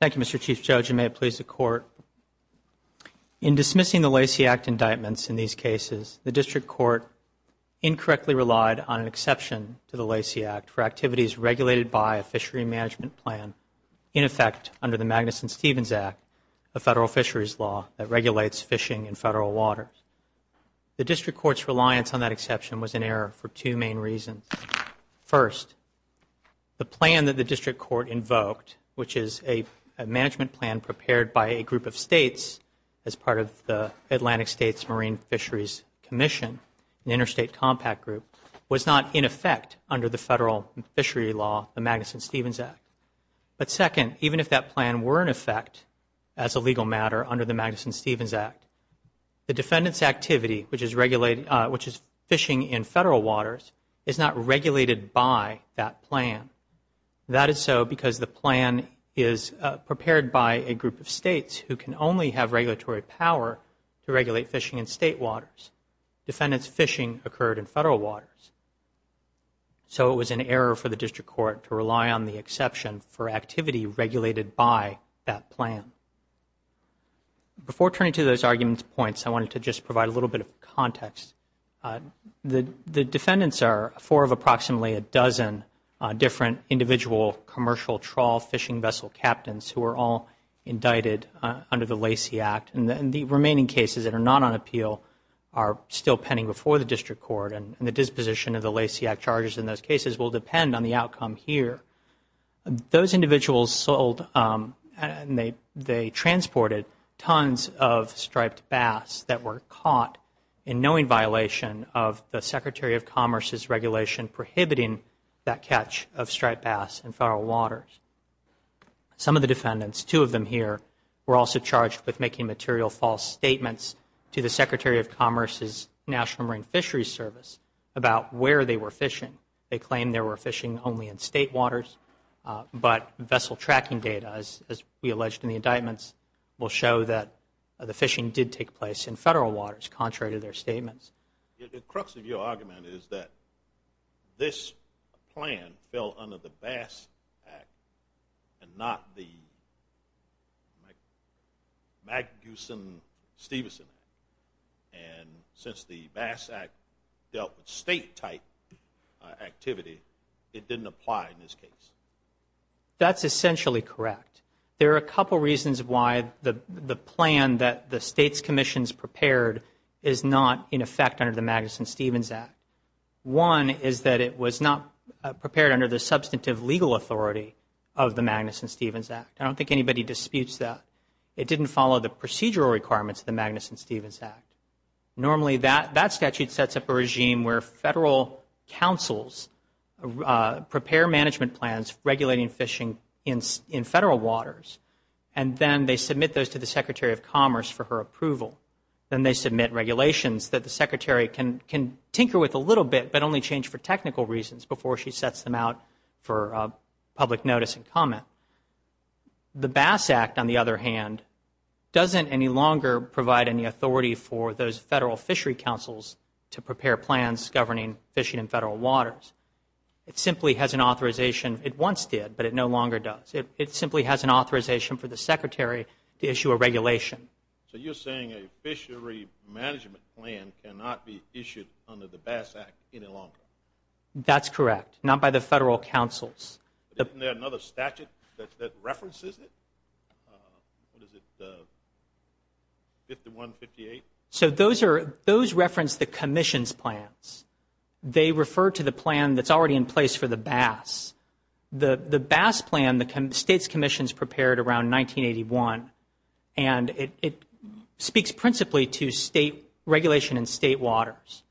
Thank you, Mr. Chief Judge, and may it please the Court, in dismissing the Lacey Act indictments in these cases, the District Court incorrectly relied on an exception to the Lacey Act for activities regulated by a fishery management plan, in effect, under the Magnuson-Stevens Act, a federal fisheries law that regulates fishing in federal waters. The District Court's reliance on that exception was in error for two main reasons. First, the plan that the District Court invoked, which is a management plan prepared by a group of states as part of the Atlantic States Marine Fisheries Commission, an interstate compact group, was not in effect under the federal fishery law, the Magnuson-Stevens Act. But second, even if that plan were in effect as a legal matter under the Magnuson-Stevens Act, the defendant's activity, which is fishing in federal waters, is not regulated by that plan. That is so because the plan is prepared by a group of states who can only have regulatory power to regulate fishing in state waters. Defendants' fishing occurred in federal waters. So it was in error for the District Court to rely on the exception for activity regulated by that plan. Before turning to those arguments points, I wanted to just provide a little bit of context. The defendants are four of approximately a dozen different individual commercial trawl fishing vessel captains who are all indicted under the Lacey Act. And the remaining cases that are not on appeal are still pending before the District Court. And the disposition of the Lacey Act charges in those cases will depend on the outcome here. Those individuals sold and they transported tons of striped bass that were caught in knowing violation of the Secretary of Commerce's regulation prohibiting that catch of striped bass in federal waters. Some of the defendants, two of them here, were also charged with making material false statements to the Secretary of Commerce's National Marine Fisheries Service about where they were fishing. They claimed they were fishing only in state waters. But vessel tracking data, as we alleged in the indictments, will show that the fishing did take place in federal waters contrary to their statements. The crux of your argument is that this plan fell under the Bass Act and not the MacGusin-Stevenson Act. And since the Bass Act dealt with state-type activity, it didn't apply in this case. That's essentially correct. There are a couple reasons why the plan that the State's Commission has prepared is not in effect under the MacGusin-Stevenson Act. One is that it was not prepared under the substantive legal authority of the MacGusin-Stevenson Act. I don't think anybody disputes that. It didn't follow the procedural requirements of the MacGusin-Stevenson Act. Normally that statute sets up a regime where federal councils prepare management plans regulating fishing in federal waters, and then they submit those to the Secretary of Commerce for her approval. Then they submit regulations that the Secretary can tinker with a little bit but only change for technical reasons before she sets them out for public notice and comment. The Bass Act, on the other hand, doesn't any longer provide any authority for those federal fishery councils to prepare plans governing fishing in federal waters. It simply has an authorization for the Secretary to issue a regulation. So you're saying a fishery management plan cannot be issued under the Bass Act any longer? That's correct. Not by the federal councils. Isn't there another statute that references it? What is it, the 5158? So those reference the Commission's plans. They refer to the plan that's already in place for the bass. The bass plan, the State's Commission's prepared around 1981, and it speaks principally to state regulation in state waters.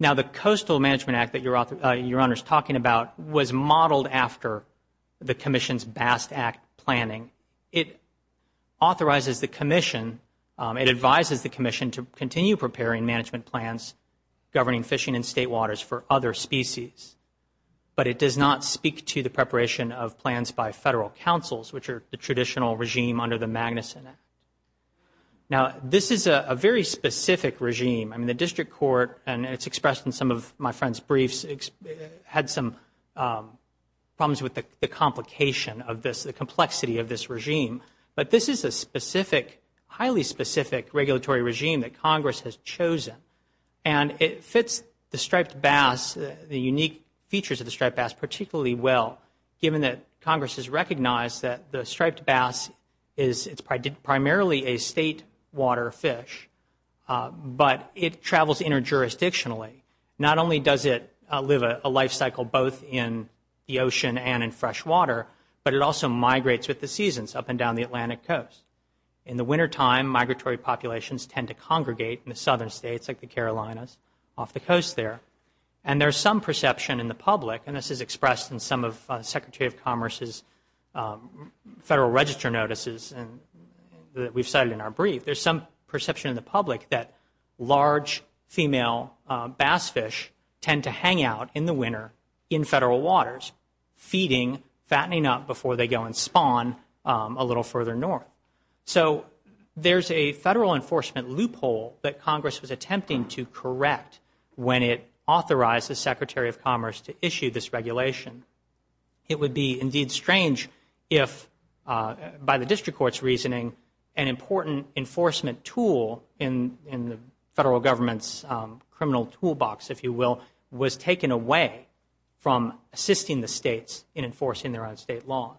Now the Coastal Management Act that Your Honor is talking about was modeled after the Commission's Bass Act planning. It authorizes the Commission, it advises the Commission to continue preparing management plans governing fishing in state waters for other species. But it does not speak to the preparation of plans by federal councils, which are the traditional regime under the Magnuson Act. Now this is a very specific regime. I mean, the District Court, and it's expressed in some of my friends' briefs, had some problems with the complication of this, the complexity of this regime. But this is a specific, highly specific regulatory regime that Congress has chosen. And it fits the striped bass, the unique features of the striped bass particularly well, given that Congress has recognized that the striped bass is primarily a state water fish, but it travels interjurisdictionally. Not only does it live a life cycle both in the ocean and in fresh water, but it also migrates with the seasons up and down the Atlantic Coast. In the wintertime, migratory populations tend to congregate in the southern states like the Carolinas off the coast there. And there's some perception in the public, and this is expressed in some of Secretary of Commerce's federal register notices that we've cited in our brief, there's some perception in the public that large female bass fish tend to hang out in the winter in federal waters, feeding, fattening up before they go and spawn a little further north. So there's a federal enforcement loophole that Congress was attempting to correct when it authorized the Secretary of Commerce to issue this regulation. It would be indeed strange if, by the district court's reasoning, an important enforcement tool in the federal government's criminal toolbox, if you will, was taken away from assisting the states in enforcing their own state laws.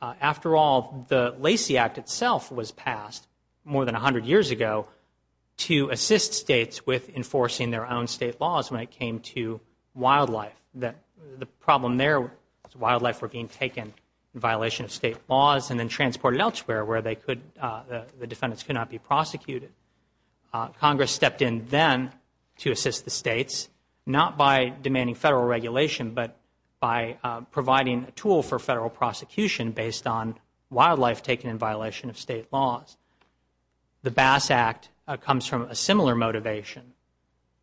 After all, the Lacey Act itself was passed more than 100 years ago to assist states with enforcing their own state laws when it came to wildlife. The problem there was wildlife were being taken in violation of state laws and then transported elsewhere where the defendants could not be prosecuted. Congress stepped in then to assist the states, not by demanding federal regulation, but by providing a tool for federal prosecution based on wildlife taken in violation of state laws. The Bass Act comes from a similar motivation.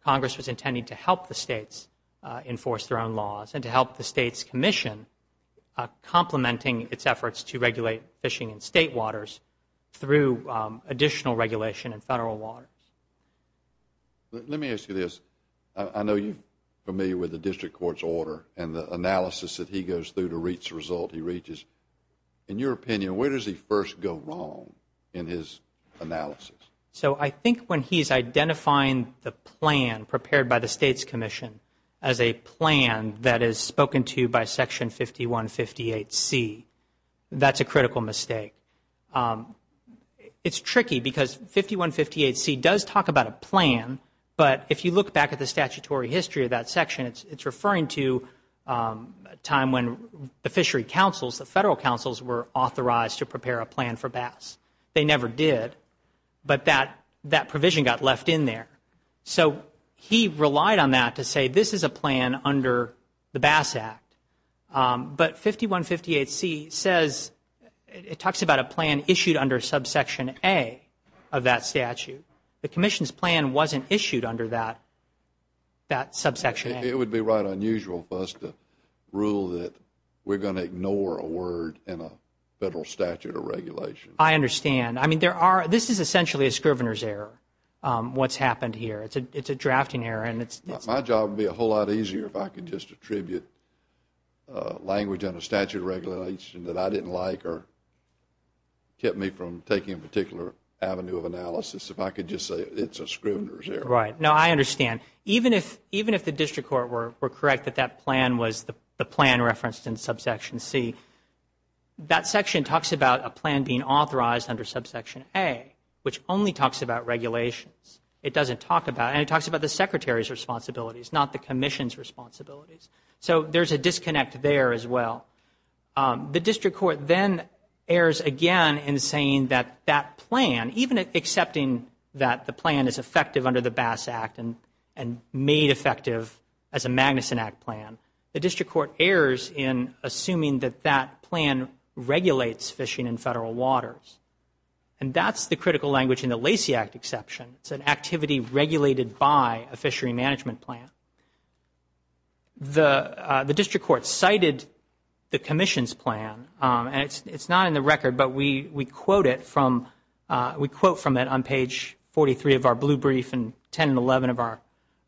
Congress was intending to help the states enforce their own laws and to help the states commission complementing its efforts to regulate fishing in state waters through additional regulation in federal waters. Let me ask you this. I know you're familiar with the district court's order and the analysis that he goes through to reach the result he reaches. In your opinion, where does he first go wrong in his analysis? So I think when he's identifying the plan prepared by the states commission as a plan that is spoken to by Section 5158C, that's a critical mistake. It's tricky because 5158C does talk about a plan, but if you look back at the statutory history of that section, it's referring to a time when the fishery councils, the federal councils, were authorized to prepare a plan for bass. They never did, but that provision got left in there. So he relied on that to say this is a plan under the Bass Act. But 5158C says it talks about a plan issued under subsection A of that statute. The commission's plan wasn't issued under that subsection. It would be right unusual for us to rule that we're going to ignore a word in a federal statute or regulation. I understand. I mean, this is essentially a scrivener's error, what's happened here. It's a drafting error. My job would be a whole lot easier if I could just attribute language under statute regulation that I didn't like or kept me from taking a particular avenue of analysis. If I could just say it's a scrivener's error. Right. No, I understand. Even if the district court were correct that that plan was the plan referenced in subsection C, that section talks about a plan being authorized under subsection A, which only talks about regulations. It doesn't talk about, and it talks about the secretary's responsibilities, not the commission's responsibilities. So there's a disconnect there as well. The district court then errs again in saying that that plan, even accepting that the plan is effective under the Bass Act and made effective as a Magnuson Act plan, the district court errors in assuming that that plan regulates fishing in federal waters. And that's the critical language in the Lacey Act exception. It's an activity regulated by a fishery management plan. The district court cited the commission's plan, and it's not in the record, but we quote from it on page 43 of our blue brief and 10 and 11 of our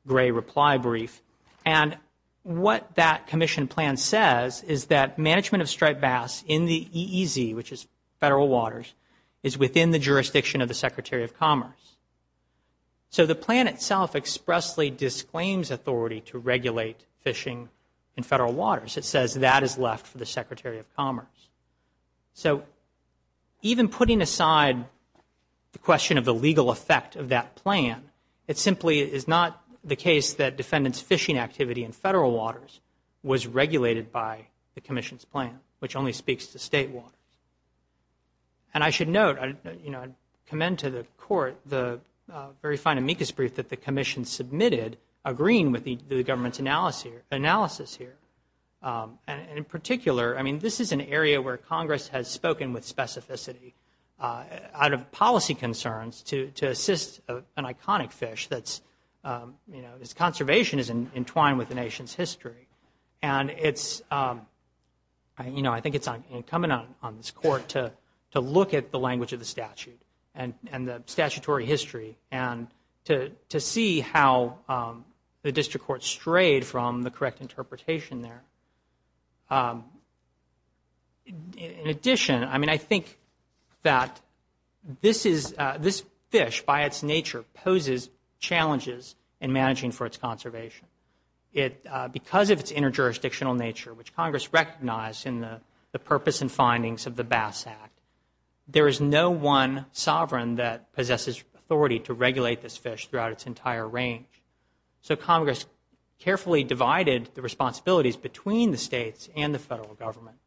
gray reply brief. And what that commission plan says is that management of striped bass in the EEZ, which is federal waters, is within the jurisdiction of the Secretary of Commerce. So the plan itself expressly disclaims authority to regulate fishing in federal waters. It says that is left for the Secretary of Commerce. So even putting aside the question of the legal effect of that plan, it simply is not the case that defendants' fishing activity in federal waters was regulated by the commission's plan, which only speaks to state waters. And I should note, you know, I commend to the court the very fine amicus brief that the commission submitted, agreeing with the government's analysis here. And in particular, I mean, this is an area where Congress has spoken with specificity out of policy concerns to assist an iconic fish that's, you know, its conservation is entwined with the nation's history. And it's, you know, I think it's incumbent on this court to look at the language of the statute and the statutory history and to see how the district court strayed from the correct interpretation there. In addition, I mean, I think that this fish, by its nature, poses challenges in managing for its conservation. Because of its interjurisdictional nature, which Congress recognized in the purpose and findings of the Bass Act, there is no one sovereign that possesses authority to regulate this fish throughout its entire range. So Congress carefully divided the responsibilities between the states and the federal government.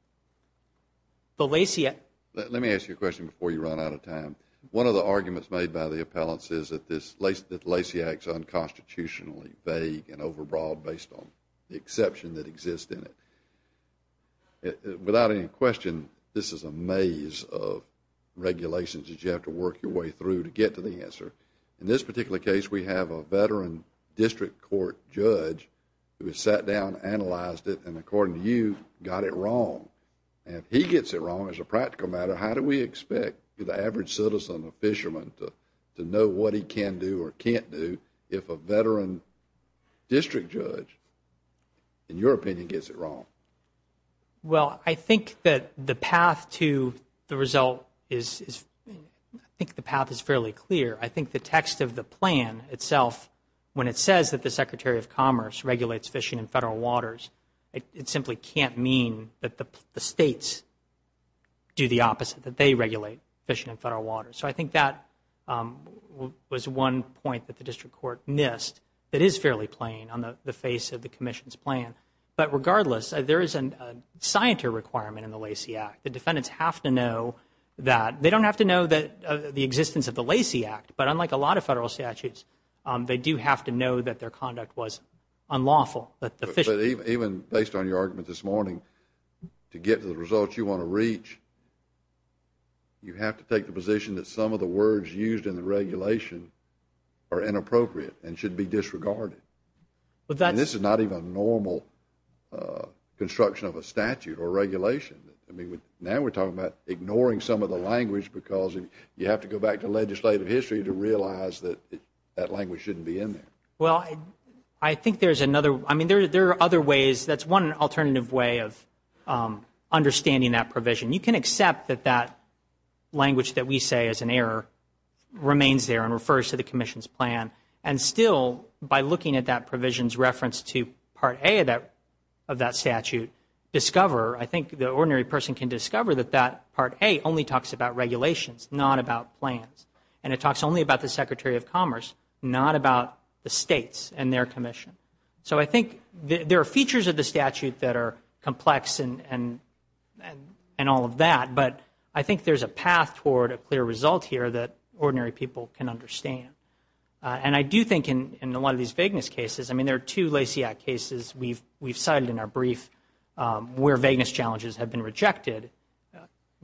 Let me ask you a question before you run out of time. One of the arguments made by the appellants is that the Lacey Act is unconstitutionally vague and overbroad based on the exception that exists in it. Without any question, this is a maze of regulations that you have to work your way through to get to the answer. In this particular case, we have a veteran district court judge who sat down, analyzed it, and according to you, got it wrong. And if he gets it wrong as a practical matter, how do we expect the average citizen, a fisherman, to know what he can do or can't do if a veteran district judge, in your opinion, gets it wrong? Well, I think that the path to the result is, I think the path is fairly clear. I think the text of the plan itself, when it says that the Secretary of Commerce regulates fishing in federal waters, it simply can't mean that the states do the opposite, that they regulate fishing in federal waters. So I think that was one point that the district court missed that is fairly plain on the face of the commission's plan. But regardless, there is a scienter requirement in the Lacey Act. The defendants have to know that. They don't have to know the existence of the Lacey Act, but unlike a lot of federal statutes, they do have to know that their conduct was unlawful. Even based on your argument this morning, to get to the results you want to reach, you have to take the position that some of the words used in the regulation are inappropriate and should be disregarded. And this is not even a normal construction of a statute or regulation. I mean, now we're talking about ignoring some of the language because you have to go back to legislative history to realize that that language shouldn't be in there. Well, I think there's another, I mean, there are other ways. That's one alternative way of understanding that provision. You can accept that that language that we say is an error remains there and refers to the commission's plan. And still, by looking at that provision's reference to Part A of that statute, discover, I think the ordinary person can discover that that Part A only talks about regulations, not about plans. And it talks only about the Secretary of Commerce, not about the states and their commission. So I think there are features of the statute that are complex and all of that, but I think there's a path toward a clear result here that ordinary people can understand. And I do think in a lot of these vagueness cases, I mean, there are two Lacey Act cases we've cited in our brief where vagueness challenges have been rejected.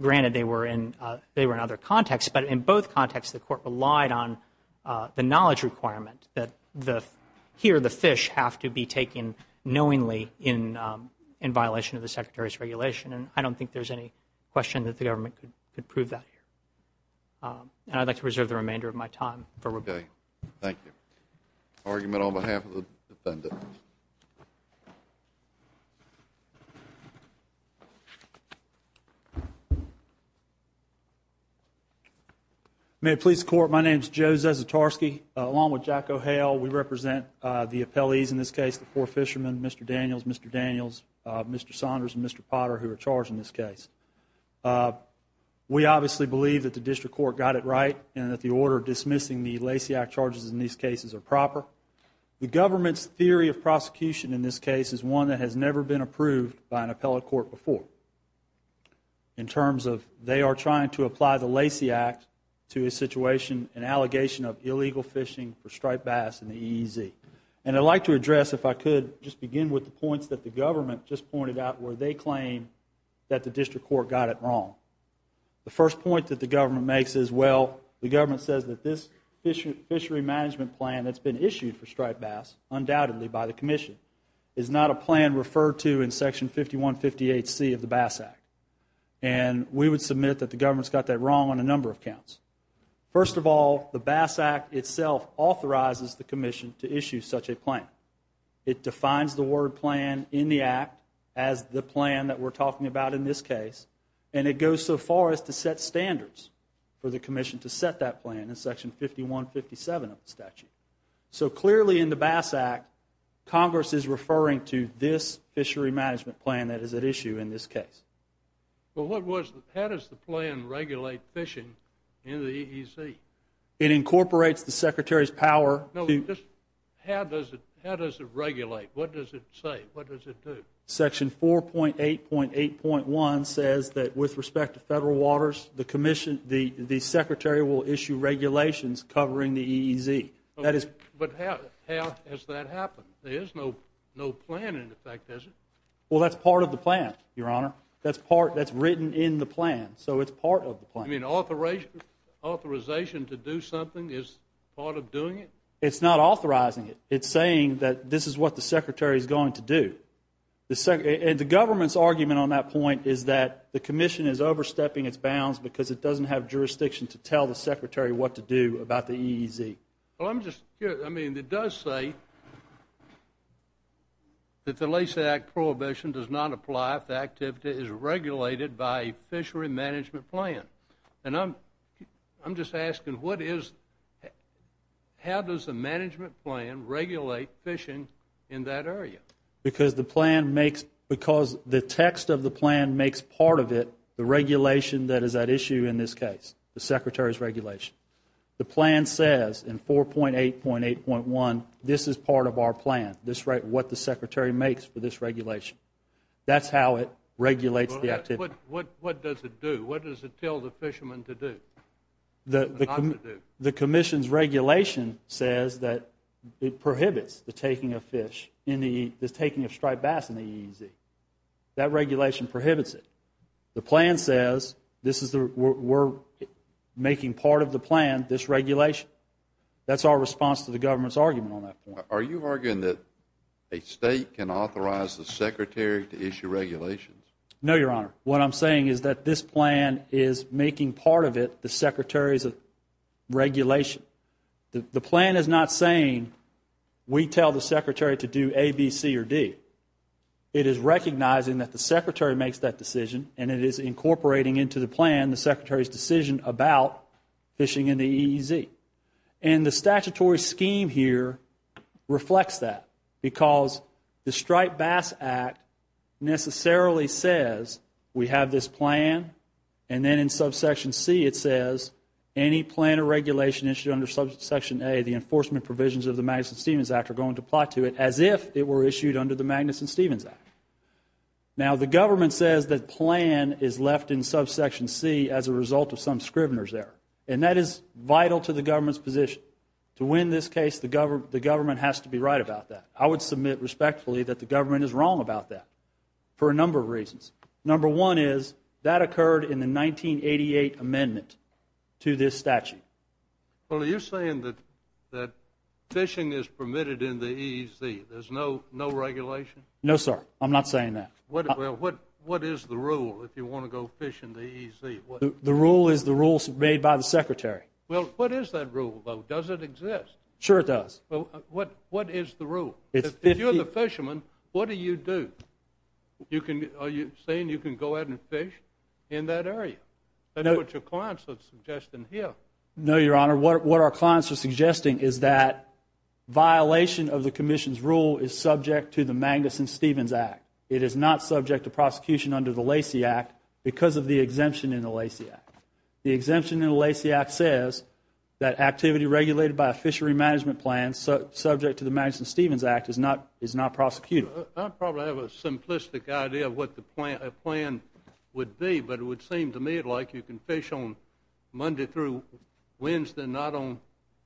Granted, they were in other contexts, but in both contexts, the Court relied on the knowledge requirement that here, the fish have to be taken knowingly in violation of the Secretary's regulation. And I don't think there's any question that the government could prove that here. And I'd like to reserve the remainder of my time for rebuttal. Okay. Thank you. Argument on behalf of the defendant. May it please the Court, my name is Joe Zasitarsky. Along with Jack O'Hale, we represent the appellees in this case, the four fishermen, Mr. Daniels, Mr. Daniels, Mr. Saunders, and Mr. Potter who are charged in this case. We obviously believe that the District Court got it right and that the order dismissing the Lacey Act charges in these cases are proper. The government's theory of prosecution in this case is one that has never been approved by an appellate court before in terms of they are trying to apply the Lacey Act to a situation, an allegation of illegal fishing for striped bass in the EEZ. And I'd like to address, if I could, just begin with the points that the government just pointed out where they claim that the District Court got it wrong. The first point that the government makes is, well, the government says that this fishery management plan that's been issued for striped bass, undoubtedly by the Commission, is not a plan referred to in Section 5158C of the Bass Act. And we would submit that the government's got that wrong on a number of counts. First of all, the Bass Act itself authorizes the Commission to issue such a plan. It defines the word plan in the Act as the plan that we're talking about in this case, and it goes so far as to set standards for the Commission to set that plan in Section 5157 of the statute. So clearly in the Bass Act, Congress is referring to this fishery management plan that is at issue in this case. Well, how does the plan regulate fishing in the EEZ? It incorporates the Secretary's power. How does it regulate? What does it say? What does it do? Section 4.8.8.1 says that with respect to federal waters, the Secretary will issue regulations covering the EEZ. But how has that happened? There is no plan in effect, is there? Well, that's part of the plan, Your Honor. That's written in the plan, so it's part of the plan. You mean authorization to do something is part of doing it? It's not authorizing it. It's saying that this is what the Secretary is going to do. And the government's argument on that point is that the Commission is overstepping its bounds because it doesn't have jurisdiction to tell the Secretary what to do about the EEZ. Well, I'm just curious. I mean, it does say that the LACE Act prohibition does not apply if the activity is regulated by a fishery management plan. And I'm just asking how does the management plan regulate fishing in that area? Because the text of the plan makes part of it the regulation that is at issue in this case, the Secretary's regulation. The plan says in 4.8.8.1, this is part of our plan, what the Secretary makes for this regulation. That's how it regulates the activity. What does it do? What does it tell the fishermen to do? The Commission's regulation says that it prohibits the taking of striped bass in the EEZ. That regulation prohibits it. The plan says we're making part of the plan this regulation. That's our response to the government's argument on that point. Are you arguing that a state can authorize the Secretary to issue regulations? No, Your Honor. What I'm saying is that this plan is making part of it the Secretary's regulation. The plan is not saying we tell the Secretary to do A, B, C, or D. It is recognizing that the Secretary makes that decision and it is incorporating into the plan the Secretary's decision about fishing in the EEZ. And the statutory scheme here reflects that because the Striped Bass Act necessarily says we have this plan and then in subsection C it says any plan or regulation issued under subsection A, the enforcement provisions of the Magnuson-Stevens Act are going to apply to it as if it were issued under the Magnuson-Stevens Act. Now, the government says that plan is left in subsection C as a result of some scrivener's error. And that is vital to the government's position. To win this case, the government has to be right about that. I would submit respectfully that the government is wrong about that for a number of reasons. Number one is that occurred in the 1988 amendment to this statute. Well, are you saying that fishing is permitted in the EEZ? There's no regulation? No, sir. I'm not saying that. Well, what is the rule if you want to go fish in the EEZ? The rule is the rule made by the Secretary. Well, what is that rule, though? Does it exist? Sure it does. Well, what is the rule? If you're the fisherman, what do you do? Are you saying you can go out and fish in that area? That's what your clients are suggesting here. No, Your Honor. What our clients are suggesting is that violation of the commission's rule is subject to the Magnuson-Stevens Act. It is not subject to prosecution under the Lacey Act because of the exemption in the Lacey Act. The exemption in the Lacey Act says that activity regulated by a fishery management plan subject to the Magnuson-Stevens Act is not prosecutable. I probably have a simplistic idea of what the plan would be, but it would seem to me like you can fish on Monday through Wednesday, not on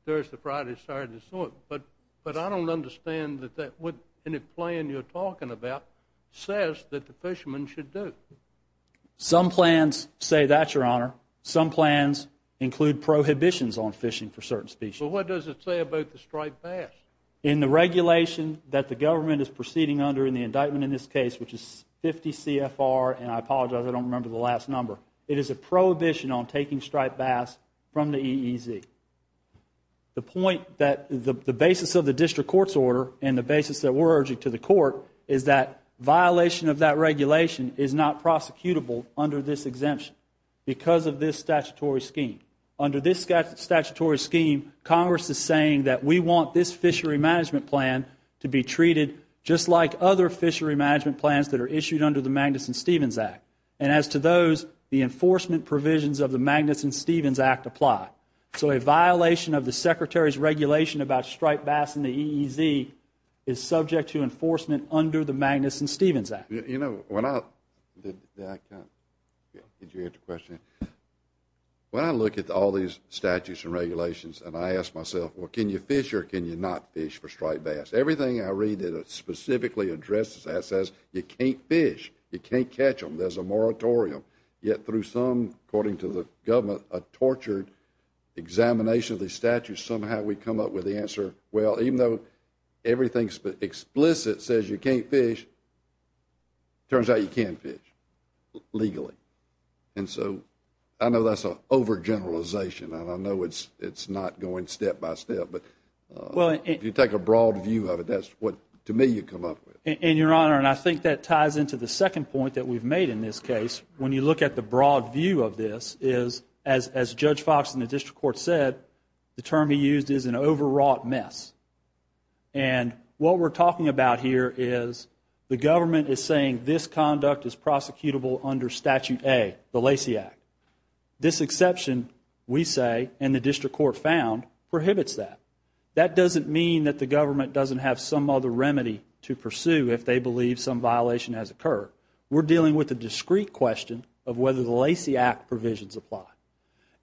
Thursday, Friday, Saturday, and so on. But I don't understand that any plan you're talking about says that the fishermen should do. Some plans say that, Your Honor. Some plans include prohibitions on fishing for certain species. Well, what does it say about the striped bass? In the regulation that the government is proceeding under in the indictment in this case, which is 50 CFR, and I apologize, I don't remember the last number. It is a prohibition on taking striped bass from the EEZ. The point that the basis of the district court's order and the basis that we're urging to the court is that violation of that regulation is not prosecutable under this exemption because of this statutory scheme. Under this statutory scheme, Congress is saying that we want this fishery management plan to be treated just like other fishery management plans that are issued under the Magnuson-Stevens Act. And as to those, the enforcement provisions of the Magnuson-Stevens Act apply. So a violation of the Secretary's regulation about striped bass in the EEZ is subject to enforcement under the Magnuson-Stevens Act. You know, when I look at all these statutes and regulations and I ask myself, well, can you fish or can you not fish for striped bass? Everything I read that specifically addresses that says you can't fish, you can't catch them. There's a moratorium. Yet through some, according to the government, a tortured examination of the statute, somehow we come up with the answer, well, even though everything explicit says you can't fish, it turns out you can fish legally. And so I know that's an overgeneralization and I know it's not going step by step, but if you take a broad view of it, that's what, to me, you come up with. And, Your Honor, and I think that ties into the second point that we've made in this case. When you look at the broad view of this, as Judge Fox in the district court said, the term he used is an overwrought mess. And what we're talking about here is the government is saying this conduct is prosecutable under Statute A, the Lacey Act. This exception, we say, and the district court found, prohibits that. That doesn't mean that the government doesn't have some other remedy to pursue if they believe some violation has occurred. We're dealing with a discrete question of whether the Lacey Act provisions apply.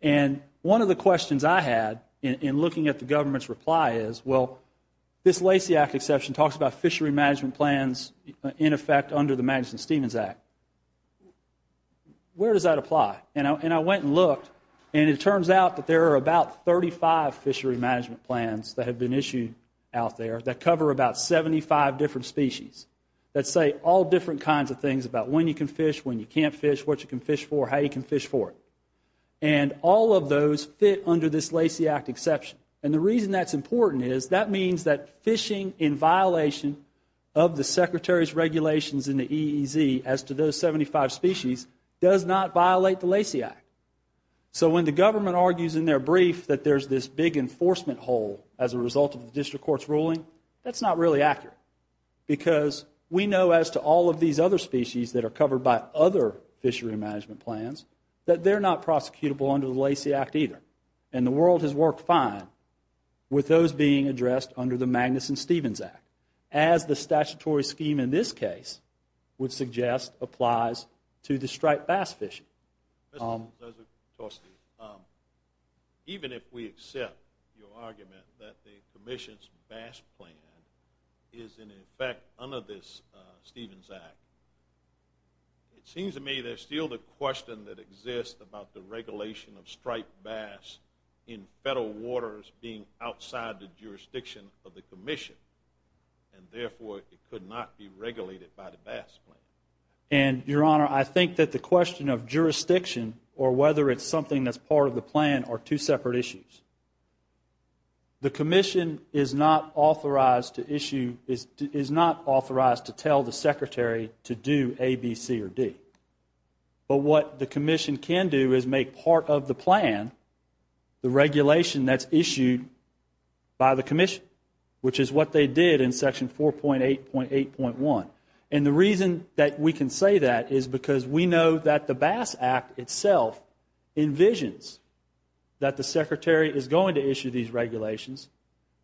And one of the questions I had in looking at the government's reply is, well, this Lacey Act exception talks about fishery management plans in effect under the Madison-Stevens Act. Where does that apply? And I went and looked, and it turns out that there are about 35 fishery management plans that have been issued out there that cover about 75 different species that say all different kinds of things about when you can fish, when you can't fish, what you can fish for, how you can fish for it. And all of those fit under this Lacey Act exception. And the reason that's important is that means that fishing in violation of the Secretary's regulations in the EEZ as to those 75 species does not violate the Lacey Act. So when the government argues in their brief that there's this big enforcement hole as a result of the district court's ruling, that's not really accurate because we know as to all of these other species that are covered by other fishery management plans that they're not prosecutable under the Lacey Act either. And the world has worked fine with those being addressed under the Madison-Stevens Act as the statutory scheme in this case would suggest applies to the striped bass fishing. Mr. Torstey, even if we accept your argument that the commission's bass plan is in effect under this Stevens Act, it seems to me there's still the question that exists about the regulation of striped bass in federal waters being outside the jurisdiction of the commission and therefore it could not be regulated by the bass plan. And, Your Honor, I think that the question of jurisdiction or whether it's something that's part of the plan are two separate issues. The commission is not authorized to issue, is not authorized to tell the Secretary to do A, B, C, or D. But what the commission can do is make part of the plan the regulation that's issued by the commission, which is what they did in Section 4.8.8.1. And the reason that we can say that is because we know that the Bass Act itself envisions that the Secretary is going to issue these regulations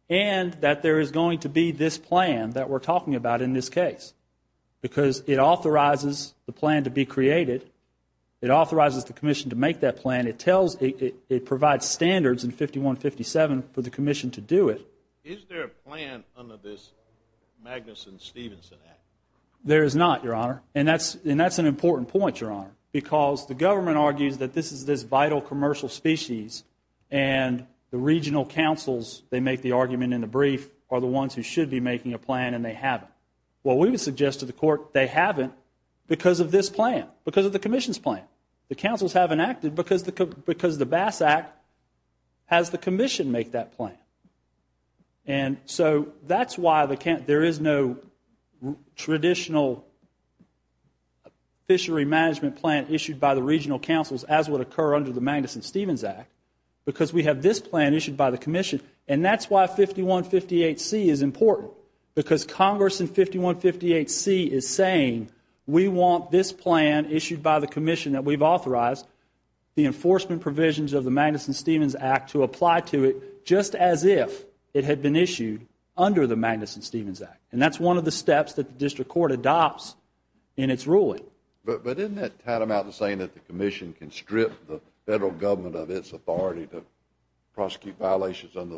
and that there is going to be this plan that we're talking about in this case because it authorizes the plan to be created. It authorizes the commission to make that plan. It provides standards in 5157 for the commission to do it. Is there a plan under this Magnuson-Stevenson Act? There is not, Your Honor, and that's an important point, Your Honor, because the government argues that this is this vital commercial species and the regional councils, they make the argument in the brief, are the ones who should be making a plan and they haven't. Well, we would suggest to the court they haven't because of this plan, because of the commission's plan. The councils haven't acted because the Bass Act has the commission make that plan. And so that's why there is no traditional fishery management plan issued by the regional councils as would occur under the Magnuson-Stevenson Act because we have this plan issued by the commission. And that's why 5158C is important because Congress in 5158C is saying, we want this plan issued by the commission that we've authorized, the enforcement provisions of the Magnuson-Stevenson Act to apply to it just as if it had been issued under the Magnuson-Stevenson Act. And that's one of the steps that the district court adopts in its ruling. But isn't that tantamount to saying that the commission can strip the federal under the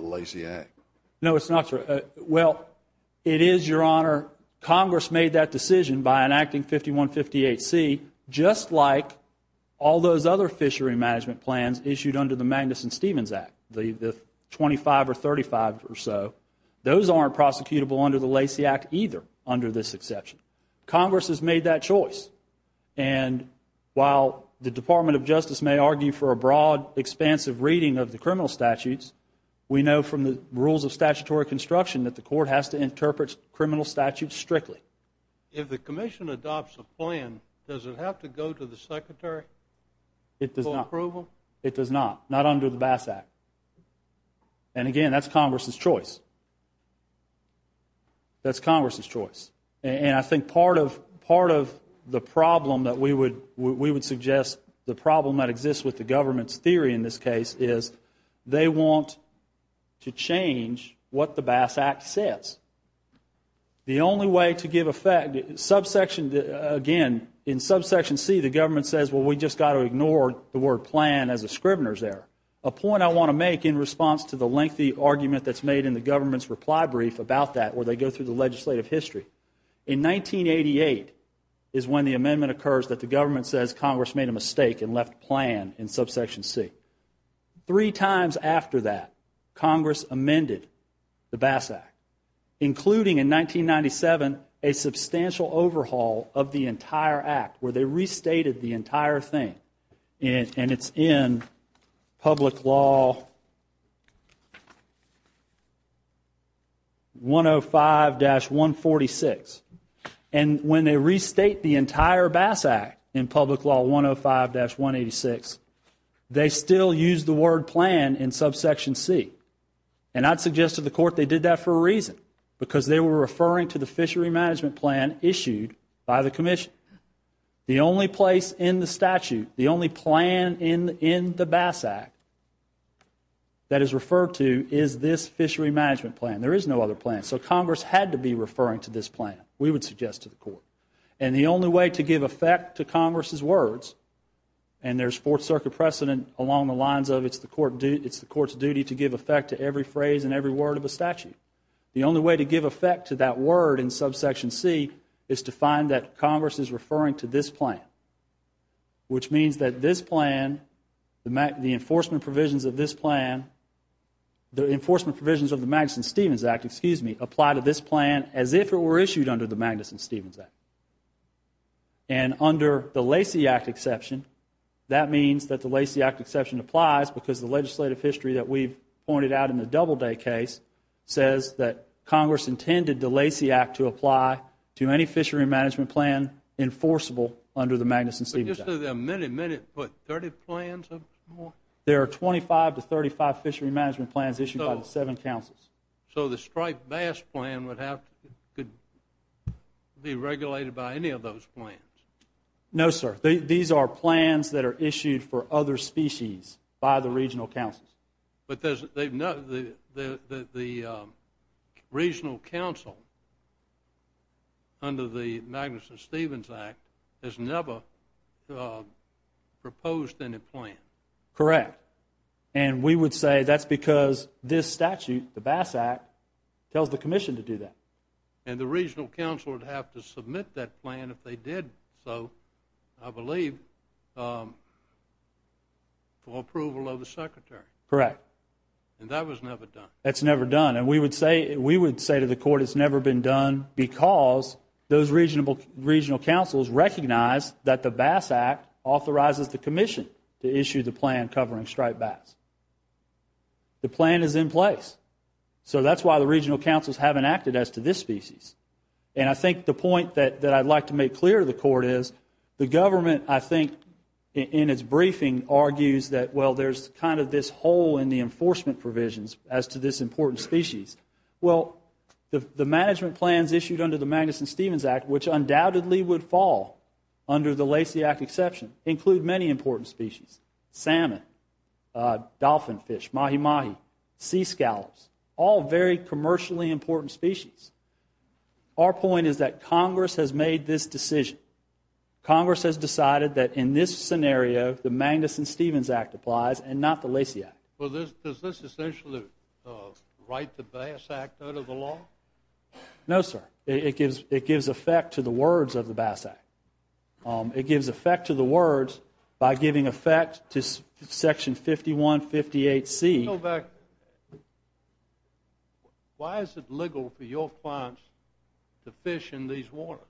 Lacey Act? No, it's not. Well, it is, Your Honor. Congress made that decision by enacting 5158C just like all those other fishery management plans issued under the Magnuson-Stevenson Act, the 25 or 35 or so. Those aren't prosecutable under the Lacey Act either under this exception. Congress has made that choice. And while the Department of Justice may argue for a broad, expansive reading of the criminal statutes, we know from the rules of statutory construction that the court has to interpret criminal statutes strictly. If the commission adopts a plan, does it have to go to the secretary for approval? It does not. Not under the Bass Act. And, again, that's Congress's choice. That's Congress's choice. And I think part of the problem that we would suggest, the problem that exists with the government's theory in this case, is they want to change what the Bass Act says. The only way to give effect, again, in subsection C, the government says, well, we just got to ignore the word plan as a scrivener's error. A point I want to make in response to the lengthy argument that's made in the government's reply brief about that where they go through the legislative history, in 1988 is when the amendment occurs that the government says Congress made a mistake and left plan in subsection C. Three times after that, Congress amended the Bass Act, including in 1997 a substantial overhaul of the entire act where they restated the entire thing. And it's in public law 105-146. And when they restate the entire Bass Act in public law 105-186, they still use the word plan in subsection C. And I'd suggest to the court they did that for a reason, because they were referring to the fishery management plan issued by the commission. The only place in the statute, the only plan in the Bass Act that is referred to is this fishery management plan. There is no other plan. So Congress had to be referring to this plan, we would suggest to the court. And the only way to give effect to Congress's words, and there's Fourth Circuit precedent along the lines of it's the court's duty to give effect to every phrase and every word of a statute. The only way to give effect to that word in subsection C is to find that Congress is referring to this plan, which means that this plan, the enforcement provisions of this plan, the enforcement provisions of the Magnuson-Stevens Act, excuse me, apply to this plan as if it were issued under the Magnuson-Stevens Act. And under the Lacey Act exception, that means that the Lacey Act exception applies because the legislative history that we've pointed out in the Doubleday case says that Congress intended the Lacey Act to apply to any fishery management plan enforceable under the Magnuson-Stevens Act. But just a minute, minute, what, 30 plans or more? There are 25 to 35 fishery management plans issued by the seven councils. So the striped bass plan would have to be regulated by any of those plans? No, sir. These are plans that are issued for other species by the regional councils. But the regional council under the Magnuson-Stevens Act has never proposed any plan? Correct. And we would say that's because this statute, the Bass Act, tells the commission to do that. And the regional council would have to submit that plan if they did so, I believe, for approval of the secretary? Correct. And that was never done? That's never done. And we would say to the court it's never been done because those regional councils recognize that the Bass Act authorizes the commission to issue the plan covering striped bass. The plan is in place. So that's why the regional councils haven't acted as to this species. And I think the point that I'd like to make clear to the court is the government, I think, in its briefing argues that, well, there's kind of this hole in the enforcement provisions as to this important species. Well, the management plans issued under the Magnuson-Stevens Act, which undoubtedly would fall under the Lacey Act exception, include many important species, salmon, dolphin fish, mahi-mahi, sea scallops, all very commercially important species. Our point is that Congress has made this decision. Congress has decided that in this scenario the Magnuson-Stevens Act applies and not the Lacey Act. Well, does this essentially write the Bass Act out of the law? No, sir. It gives effect to the words of the Bass Act. It gives effect to the words by giving effect to Section 5158C. Why is it legal for your clients to fish in these waters?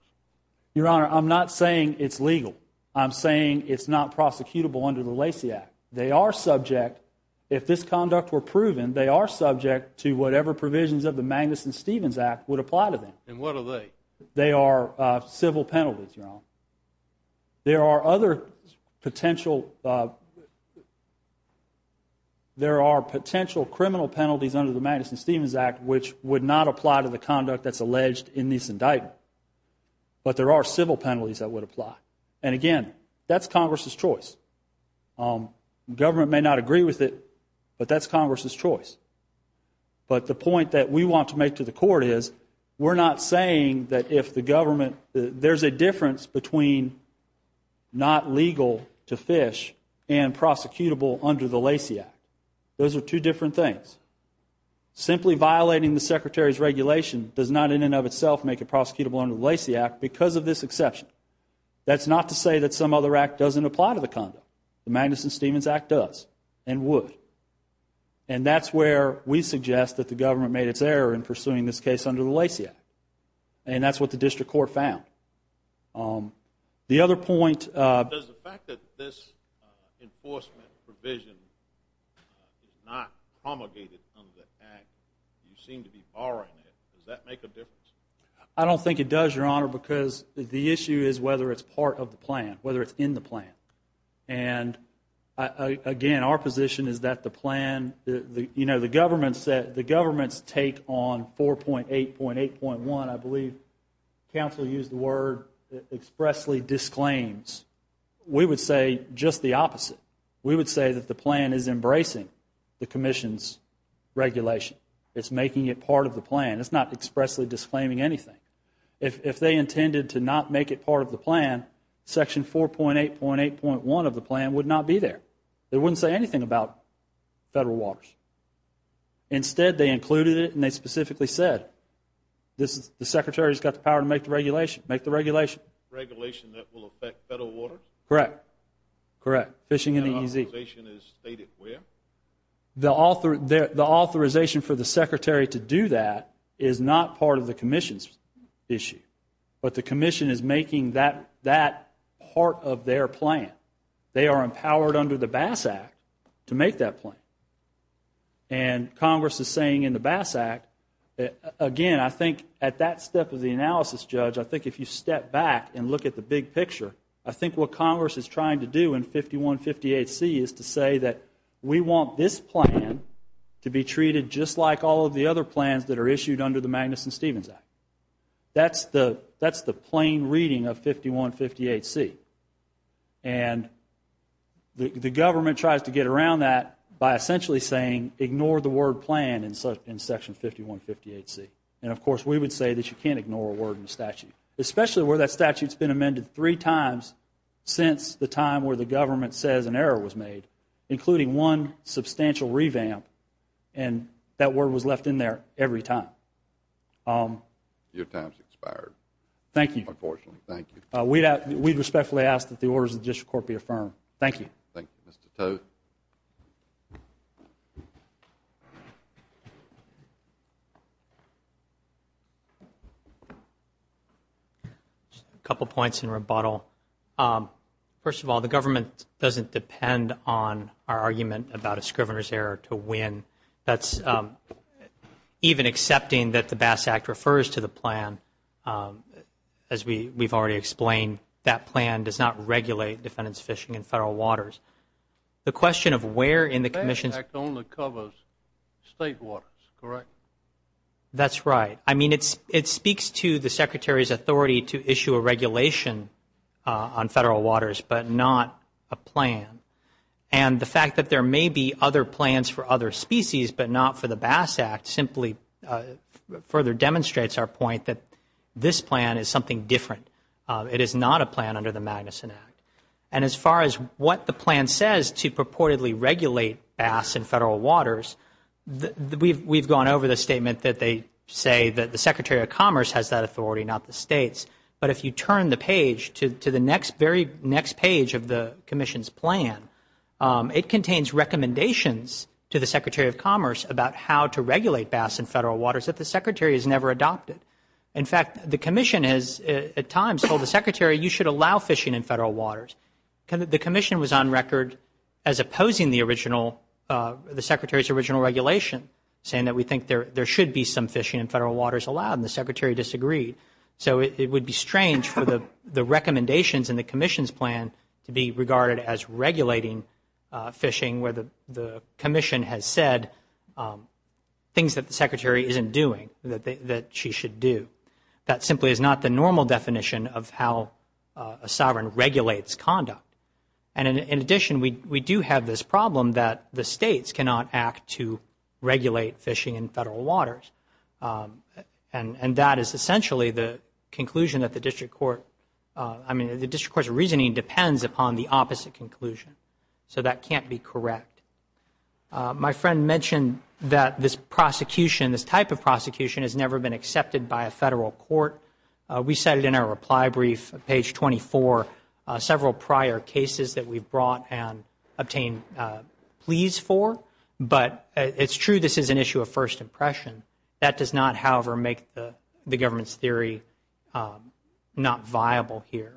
Your Honor, I'm not saying it's legal. I'm saying it's not prosecutable under the Lacey Act. They are subject, if this conduct were proven, they are subject to whatever provisions of the Magnuson-Stevens Act would apply to them. And what are they? They are civil penalties, Your Honor. There are other potential criminal penalties under the Magnuson-Stevens Act which would not apply to the conduct that's alleged in this indictment, but there are civil penalties that would apply. And, again, that's Congress's choice. The government may not agree with it, but that's Congress's choice. But the point that we want to make to the court is we're not saying that if the government, there's a difference between not legal to fish and prosecutable under the Lacey Act. Those are two different things. Simply violating the Secretary's regulation does not, in and of itself, make it prosecutable under the Lacey Act because of this exception. That's not to say that some other act doesn't apply to the conduct. The Magnuson-Stevens Act does and would. And that's where we suggest that the government made its error in pursuing this case under the Lacey Act. And that's what the district court found. The other point. Does the fact that this enforcement provision is not promulgated under the act, you seem to be borrowing it, does that make a difference? I don't think it does, Your Honor, because the issue is whether it's part of the plan, whether it's in the plan. And, again, our position is that the plan, you know, the government's take on 4.8.8.1, I believe counsel used the word, expressly disclaims. We would say just the opposite. We would say that the plan is embracing the commission's regulation. It's making it part of the plan. It's not expressly disclaiming anything. If they intended to not make it part of the plan, Section 4.8.8.1 of the plan would not be there. It wouldn't say anything about federal waters. Instead, they included it and they specifically said, the Secretary's got the power to make the regulation. Make the regulation. Regulation that will affect federal waters? Correct. Correct. Fishing in the EZ. And the authorization is stated where? The authorization for the Secretary to do that is not part of the commission's issue, but the commission is making that part of their plan. They are empowered under the Bass Act to make that plan. And Congress is saying in the Bass Act, again, I think at that step of the analysis, Judge, I think if you step back and look at the big picture, I think what Congress is trying to do in 5158C is to say that we want this plan to be treated just like all of the other plans that are issued under the Magnuson-Stevens Act. That's the plain reading of 5158C. And the government tries to get around that by essentially saying, ignore the word plan in Section 5158C. And, of course, we would say that you can't ignore a word in the statute, especially where that statute has been amended three times since the time where the government says an error was made, including one substantial revamp. And that word was left in there every time. Your time has expired. Thank you. Unfortunately. Thank you. We respectfully ask that the orders of the District Court be affirmed. Thank you. Thank you, Mr. Tote. A couple of points in rebuttal. First of all, the government doesn't depend on our argument about a scrivener's error to win. That's even accepting that the Bass Act refers to the plan, as we've already explained, that plan does not regulate defendant's fishing in federal waters. The question of where in the commission's... The Bass Act only covers state waters, correct? That's right. I mean, it speaks to the Secretary's authority to issue a regulation on federal waters, but not a plan. And the fact that there may be other plans for other species, but not for the Bass Act, simply further demonstrates our point that this plan is something different. It is not a plan under the Magnuson Act. And as far as what the plan says to purportedly regulate bass in federal waters, we've gone over the statement that they say that the Secretary of Commerce has that authority, not the states. But if you turn the page to the very next page of the commission's plan, it contains recommendations to the Secretary of Commerce about how to regulate bass in federal waters that the Secretary has never adopted. In fact, the commission has at times told the Secretary you should allow fishing in federal waters. The commission was on record as opposing the original, the Secretary's original regulation, saying that we think there should be some fishing in federal waters allowed, and the Secretary disagreed. So it would be strange for the recommendations in the commission's plan to be regarded as regulating fishing, where the commission has said things that the Secretary isn't doing that she should do. That simply is not the normal definition of how a sovereign regulates conduct. And in addition, we do have this problem that the states cannot act to regulate fishing in federal waters. And that is essentially the conclusion that the district court, I mean, the district court's reasoning depends upon the opposite conclusion. So that can't be correct. My friend mentioned that this prosecution, this type of prosecution, has never been accepted by a federal court. We cited in our reply brief, page 24, several prior cases that we've brought and obtained pleas for. But it's true this is an issue of first impression. That does not, however, make the government's theory not viable here.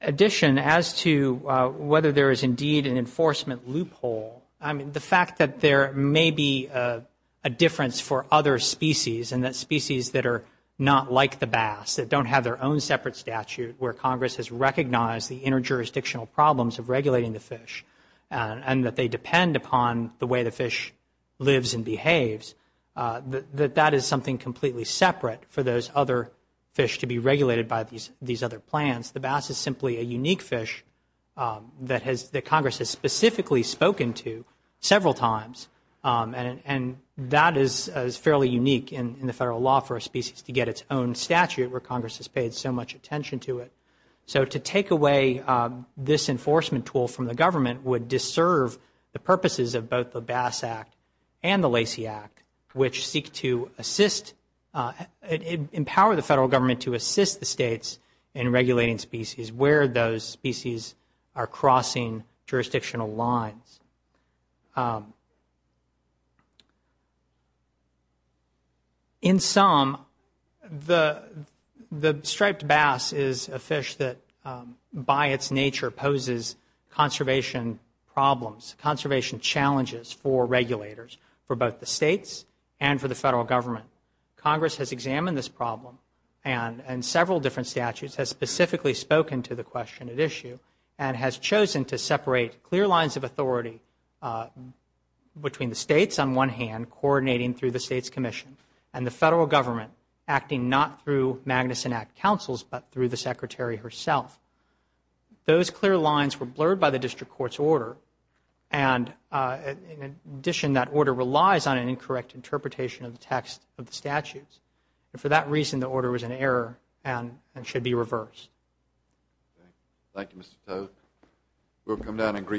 In addition, as to whether there is indeed an enforcement loophole, I mean, the fact that there may be a difference for other species, and that species that are not like the bass, that don't have their own separate statute, where Congress has recognized the interjurisdictional problems of regulating the fish, and that they depend upon the way the fish lives and behaves, that that is something completely separate for those other fish to be regulated by these other plans. The bass is simply a unique fish that Congress has specifically spoken to several times. And that is fairly unique in the federal law for a species to get its own statute, where Congress has paid so much attention to it. So to take away this enforcement tool from the government would deserve the purposes of both the Bass Act and the Lacey Act, which seek to assist, empower the federal government to assist the states in regulating species, where those species are crossing jurisdictional lines. In sum, the striped bass is a fish that, by its nature, poses conservation problems, conservation challenges for regulators, for both the states and for the federal government. Congress has examined this problem, and in several different statutes, has specifically spoken to the question at issue, and has chosen to separate clear lines of authority between the states on one hand, coordinating through the States Commission, and the federal government acting not through Magnuson Act councils, but through the Secretary herself. Those clear lines were blurred by the District Court's order. And in addition, that order relies on an incorrect interpretation of the text of the statutes. And for that reason, the order was in error and should be reversed. Thank you, Mr. Toedt. We'll come down and greet you.